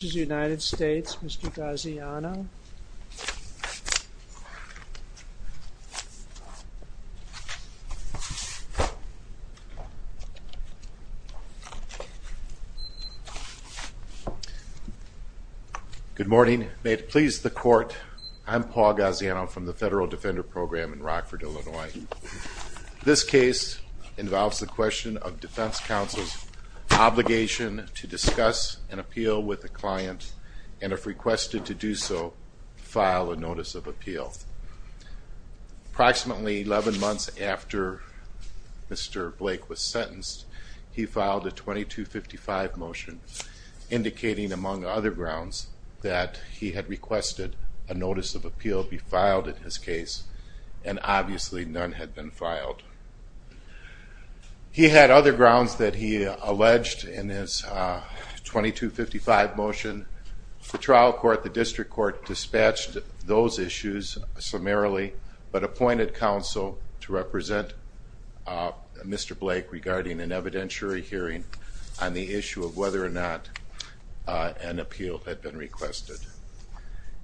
Good morning. May it please the court, I'm Paul Gaziano from the Federal Defender Program in Rockford, Illinois. This case involves the question of defense counsel's obligation to discuss an appeal with a client and if requested to do so, file a notice of appeal. Approximately 11 months after Mr. Blake was sentenced, he filed a 2255 motion indicating, among other grounds, that he had requested a notice of appeal be filed in his case and obviously none had been filed. He had other grounds that he alleged in his 2255 motion. The trial court, the district court, dispatched those issues summarily but appointed counsel to represent Mr. Blake regarding an evidentiary hearing on the issue of whether or not an appeal had been requested.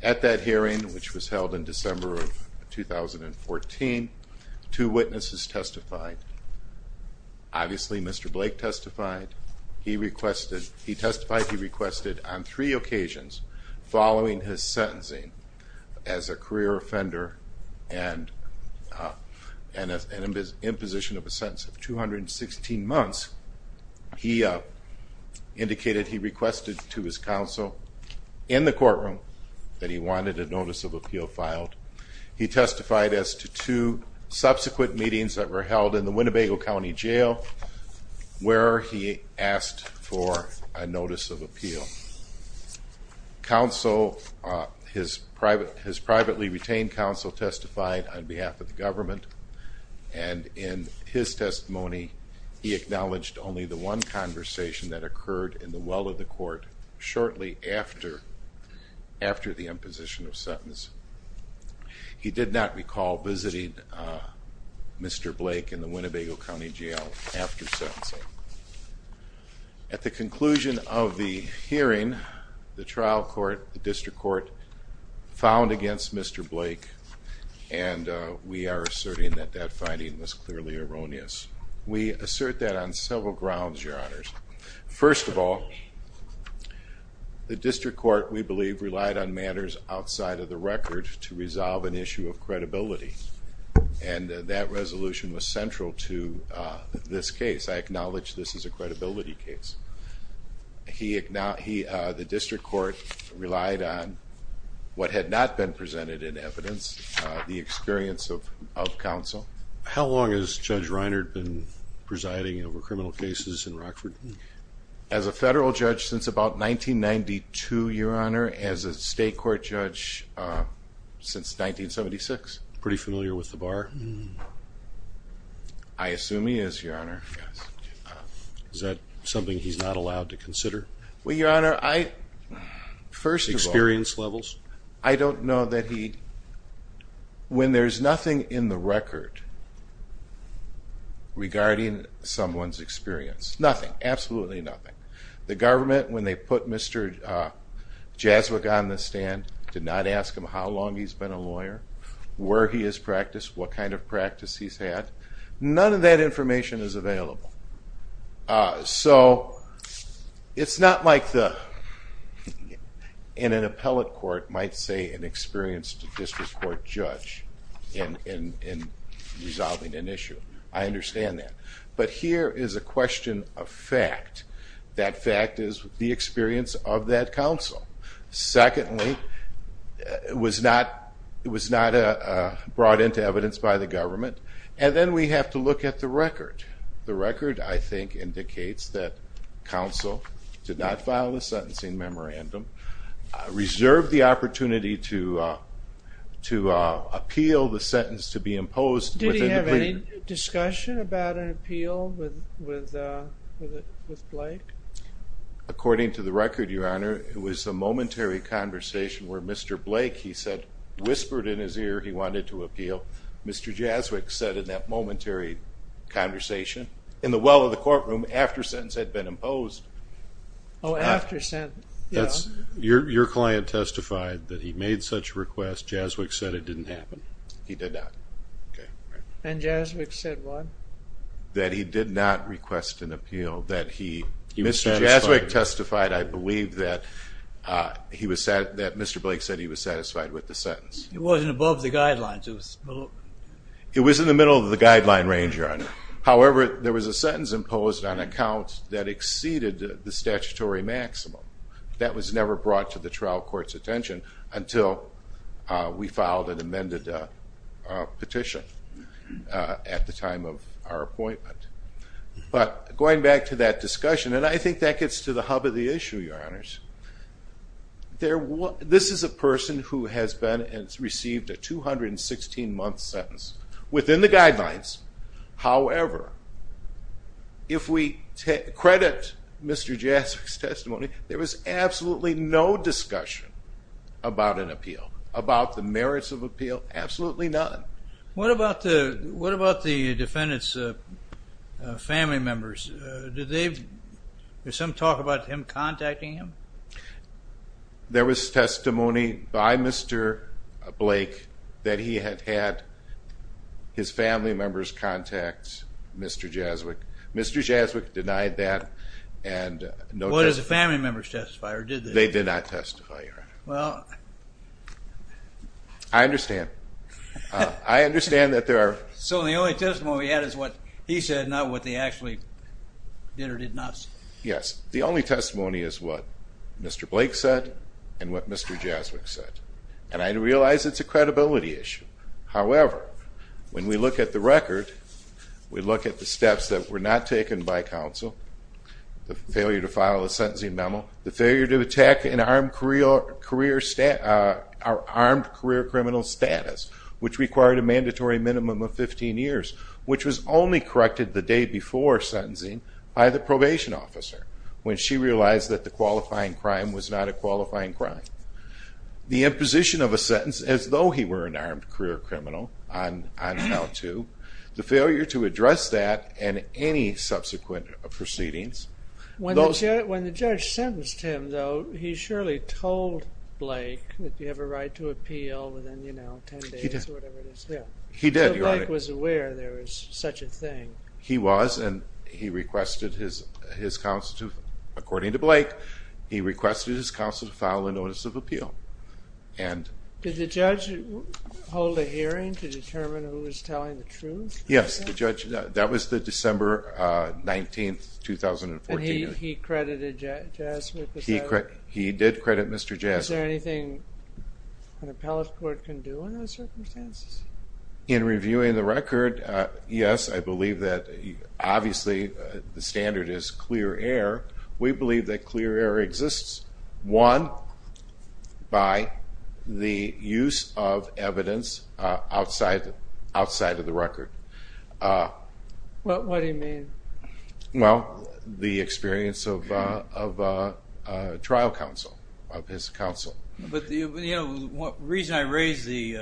At that hearing, which was held in December of 2014, two witnesses testified. Obviously Mr. Blake testified. He requested, he testified he requested on three occasions following his sentencing as a career offender and an imposition of a sentence of 216 months, he indicated he requested to his counsel in the courtroom that he wanted a notice of appeal filed. He testified as to two subsequent meetings that were held in the Winnebago County Jail where he asked for a notice of appeal. Counsel, his privately retained counsel testified on behalf of the government and in his testimony he acknowledged only the one conversation that occurred in the well of the court shortly after the imposition of sentence. He did not recall visiting Mr. Blake in the Winnebago County Jail after sentencing. At the conclusion of the hearing, the trial court, the district court, found against Mr. Blake and we are asserting that that finding was clearly erroneous. We assert that on several grounds, your honors. First of all, the district court we believe relied on matters outside of the record to resolve an issue of credibility and that resolution was central to this case. I acknowledge this is a credibility case. The district court relied on what had not been presented in evidence, the experience of counsel. How long has Judge Reiner been presiding over criminal cases in Rockford? As a federal judge, since about 1992, your honor. As a state court judge since 1976. Pretty familiar with the bar? I assume he is, your honor. Is that something he's not allowed to consider? Well, your honor, I, first of all. Experience levels? I don't know that he, when there's nothing in the record regarding someone's experience, nothing, absolutely nothing. The government, when they put Mr. Jaswick on the stand, did not ask him how long he's been a lawyer, where he has practiced, what kind of practice he's had. None of that information is available. So, it's not like the, in an appellate court, might say an experienced district court judge in resolving an issue. I understand that. But here is a question of fact. That fact is the experience of that counsel. Secondly, it was not brought into evidence by the government. And then we have to look at the record. The record, I think, indicates that counsel did not file a sentencing memorandum, reserved the opportunity to appeal the sentence to be imposed. Did he have any discussion about an appeal with Blake? According to the record, your honor, it was a momentary conversation where Mr. Blake, he said, whispered in his ear he wanted to appeal. Mr. Jaswick said in that momentary conversation, in the well of the Your client testified that he made such a request. Jaswick said it didn't happen. He did not. And Jaswick said what? That he did not request an appeal. Mr. Jaswick testified, I believe, that Mr. Blake said he was satisfied with the sentence. It wasn't above the guidelines. It was in the middle of the guideline range, your honor. However, there was a sentence imposed on account that exceeded the statutory maximum. That was never brought to the trial court's attention until we filed an amended petition at the time of our appointment. But going back to that discussion, and I think that gets to the hub of the issue, your honors. This is a person who has been and received a 216 month sentence within the guidelines. However, if we credit Mr. Jaswick's testimony, there was absolutely no discussion about an appeal, about the merits of appeal, absolutely none. What about the defendant's family members? Did some talk about him contacting him? There was testimony by Mr. Blake that he had had his family members contact Mr. Jaswick. Mr. Jaswick denied that. What did the family members testify, or did they? They did not testify, your honor. Well... I understand. I understand that there are... So the only testimony he had is what he said, not what they actually did or did not say. Yes. The only testimony is what Mr. Blake said and what Mr. Jaswick said. And I realize it's a credibility issue. However, when we look at the record, we look at the steps that were not taken by counsel, the failure to file a sentencing for an armed career criminal status, which required a mandatory minimum of 15 years, which was only corrected the day before sentencing by the probation officer, when she realized that the qualifying crime was not a qualifying crime, the imposition of a sentence as though he were an armed career criminal on L2, the failure to address that and any subsequent proceedings... When the judge sentenced him, though, he surely told Blake that you have a right to appeal within, you know, 10 days or whatever it is. He did, your honor. So Blake was aware there was such a thing. He was, and he requested his counsel to, according to Blake, he requested his counsel to file a notice of appeal. And... Did the judge hold a hearing to determine who was telling the truth? Yes, the judge, that was the December 19th, 2014. And he credited Jaswick with that? He did credit Mr. Jaswick. Is there anything an appellate court can do in those circumstances? In reviewing the record, yes, I believe that obviously the standard is clear air. We believe that clear air exists, one, by the use of evidence outside of the record. What do you mean? Well, the experience of trial counsel, of his counsel. But, you know, the reason I raise the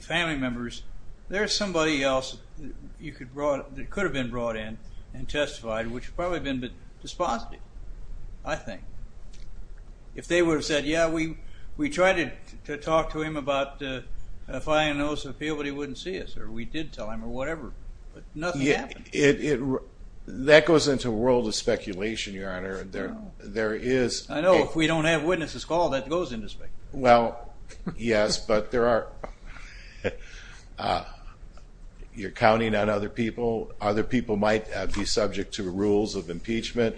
family members, there's somebody else that could have been brought in and testified, which probably would have been despotic, I think. If they would have said, yeah, we tried to talk to him about filing a notice of appeal, but he wouldn't see us, or we did tell him, or whatever, but nothing happened. That goes into a world of speculation, your honor. There is... I know, if we don't have witnesses called, that goes into speculation. Well, yes, but there are... You're counting on other people. Other people might be subject to rules of impeachment.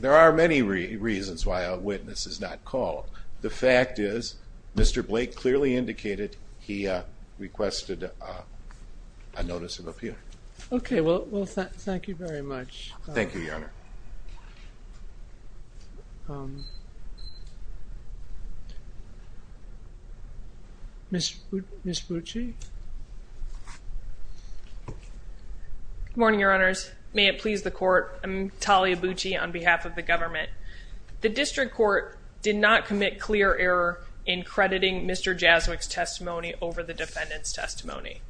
There are many reasons why a witness is not called. The fact is, Mr. Blake clearly indicated he requested a notice of appeal. Okay, well, thank you very much. Thank you, your honor. Ms. Bucci? Good morning, your honors. May it please the court, I'm Talia Bucci on behalf of the government. The district court did not commit clear error in crediting Mr. Jaswick's testimony over the defendant's testimony.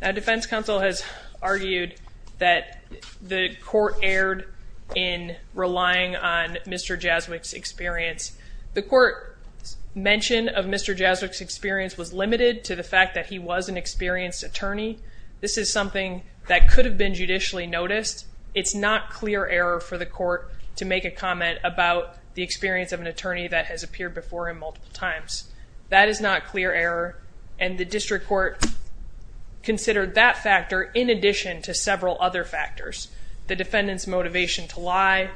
Now, defense counsel has argued that the court erred in relying on Mr. Jaswick's experience. The court's mention of Mr. Jaswick's experience was limited to the fact that he was an experienced attorney. This is something that could have been judicially noticed. It's not clear error for the court to make a comment about the experience of an attorney that has appeared before him multiple times. That is not clear error, and the district court considered that factor in addition to several other factors. The defendant's motivation to lie,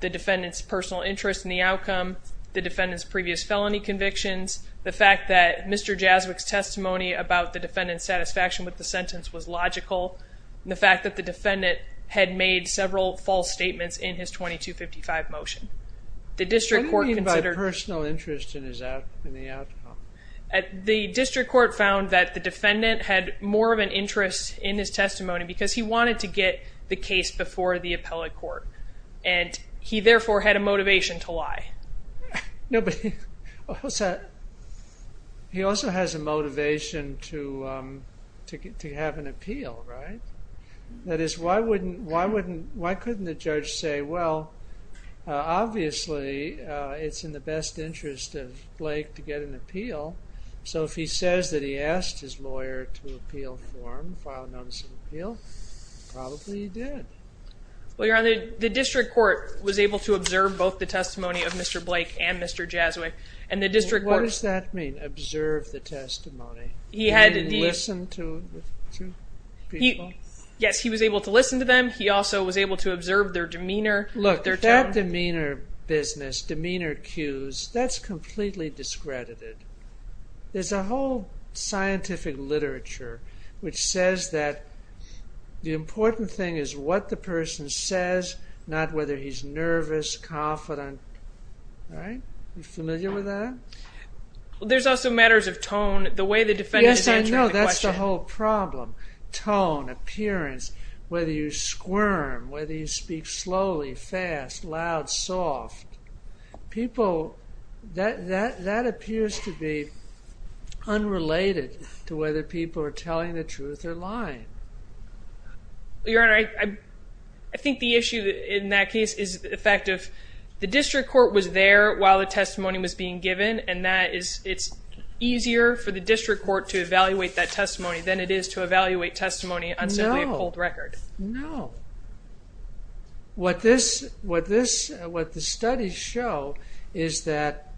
the defendant's personal interest in the outcome, the defendant's previous felony convictions, the fact that Mr. Jaswick's testimony about the defendant's satisfaction with the sentence was logical, and the fact that the defendant had made several false statements in his 2255 motion. What do you mean by personal interest in the outcome? The district court found that the defendant had more of an interest in his testimony because he wanted to get the case before the appellate court, and he therefore had a motivation to lie. No, but he also has a motivation to have an appeal, right? That is, why couldn't the judge say, well, obviously it's in the best interest of Blake to get an appeal, so if he says that he asked his lawyer to appeal for him, file a notice of appeal, probably he did. Well, Your Honor, the district court was able to observe both the testimony of Mr. Blake and Mr. Jaswick. What does that mean, observe the testimony? He listened to the two people? Yes, he was able to listen to them. He also was able to observe their demeanor. Look, that demeanor business, demeanor cues, that's completely discredited. There's a whole scientific literature which says that the important thing is what the person says, not whether he's nervous, confident, right? Are you familiar with that? There's also matters of tone, the way the defendant is answering the question. Yes, I know, that's the whole problem. Tone, appearance, whether you squirm, whether you speak slowly, fast, loud, soft. People, that appears to be unrelated to whether people are telling the truth or lying. Your Honor, I think the issue in that case is the fact of the district court was there while the testimony was being given, and it's easier for the district court to evaluate that testimony than it is to evaluate testimony on simply a pulled record. No. What the studies show is that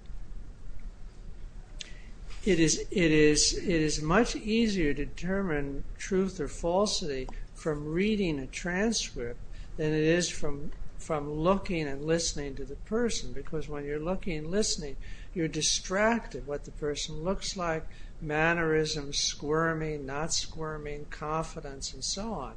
it is much easier to determine truth or falsity from reading a transcript than it is from looking and listening to the person, because when you're looking and listening, you're distracted by what the person looks like, mannerisms, squirming, not squirming, confidence, and so on.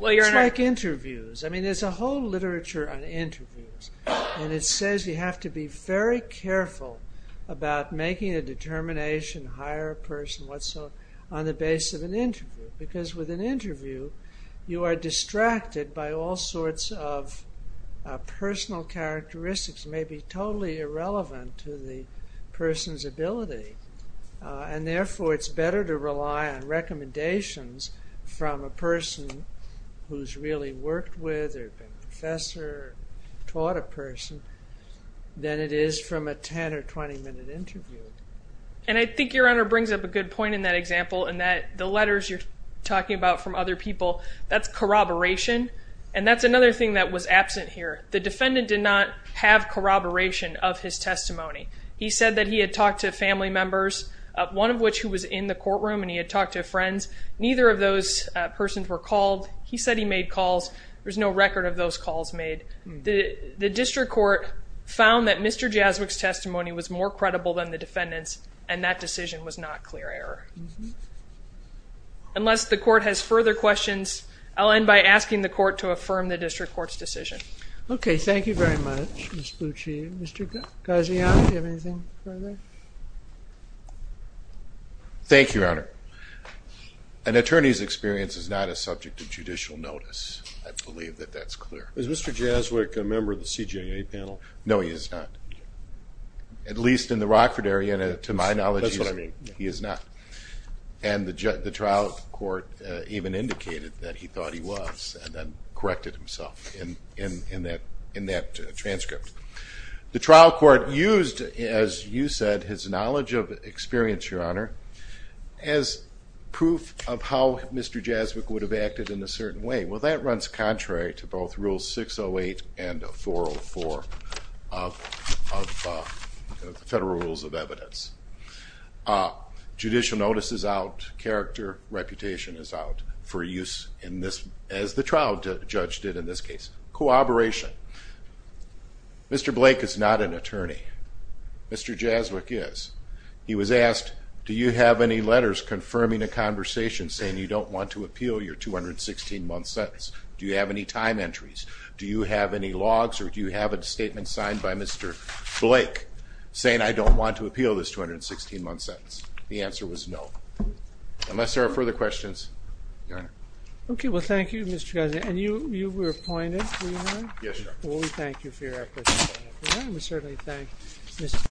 It's like interviews. I mean, there's a whole literature on interviews, and it says you have to be very careful about making a determination, hire a person, whatsoever, on the basis of an interview, because with an interview, you are distracted by all sorts of personal characteristics, maybe totally irrelevant to the person's ability. And therefore, it's better to rely on recommendations from a person who's really worked with or been a professor or taught a person than it is from a 10- or 20-minute interview. And I think Your Honor brings up a good point in that example in that the letters you're talking about from other people, that's corroboration, and that's another thing that was absent here. The defendant did not have corroboration of his testimony. He said that he had talked to family members, one of which who was in the courtroom, and he had talked to friends. Neither of those persons were called. He said he made calls. There's no record of those calls made. The district court found that Mr. Jaswick's testimony was more credible than the defendant's, and that decision was not clear error. Unless the court has further questions, I'll end by asking the court to affirm the district court's decision. Okay, thank you very much, Ms. Bucci. Mr. Gaziano, do you have anything further? Thank you, Your Honor. An attorney's experience is not a subject of judicial notice. I believe that that's clear. Is Mr. Jaswick a member of the CJA panel? No, he is not, at least in the Rockford area, and to my knowledge, he is not. And the trial court even indicated that he thought he was and then corrected himself in that transcript. The trial court used, as you said, his knowledge of experience, Your Honor, as proof of how Mr. Jaswick would have acted in a certain way. Well, that runs contrary to both Rules 608 and 404 of the Federal Rules of Evidence. Judicial notice is out, character, reputation is out for use as the trial judge did in this case. Cooperation. Mr. Blake is not an attorney. Mr. Jaswick is. He was asked, do you have any letters confirming a conversation saying you don't want to appeal your 216-month sentence? Do you have any time entries? Do you have any logs or do you have a statement signed by Mr. Blake saying, I don't want to appeal this 216-month sentence? The answer was no. Unless there are further questions, Your Honor. Okay, well, thank you, Mr. Gaziano. And you were appointed, were you not? Yes, Your Honor. Well, we thank you for your efforts. Well, we certainly thank you.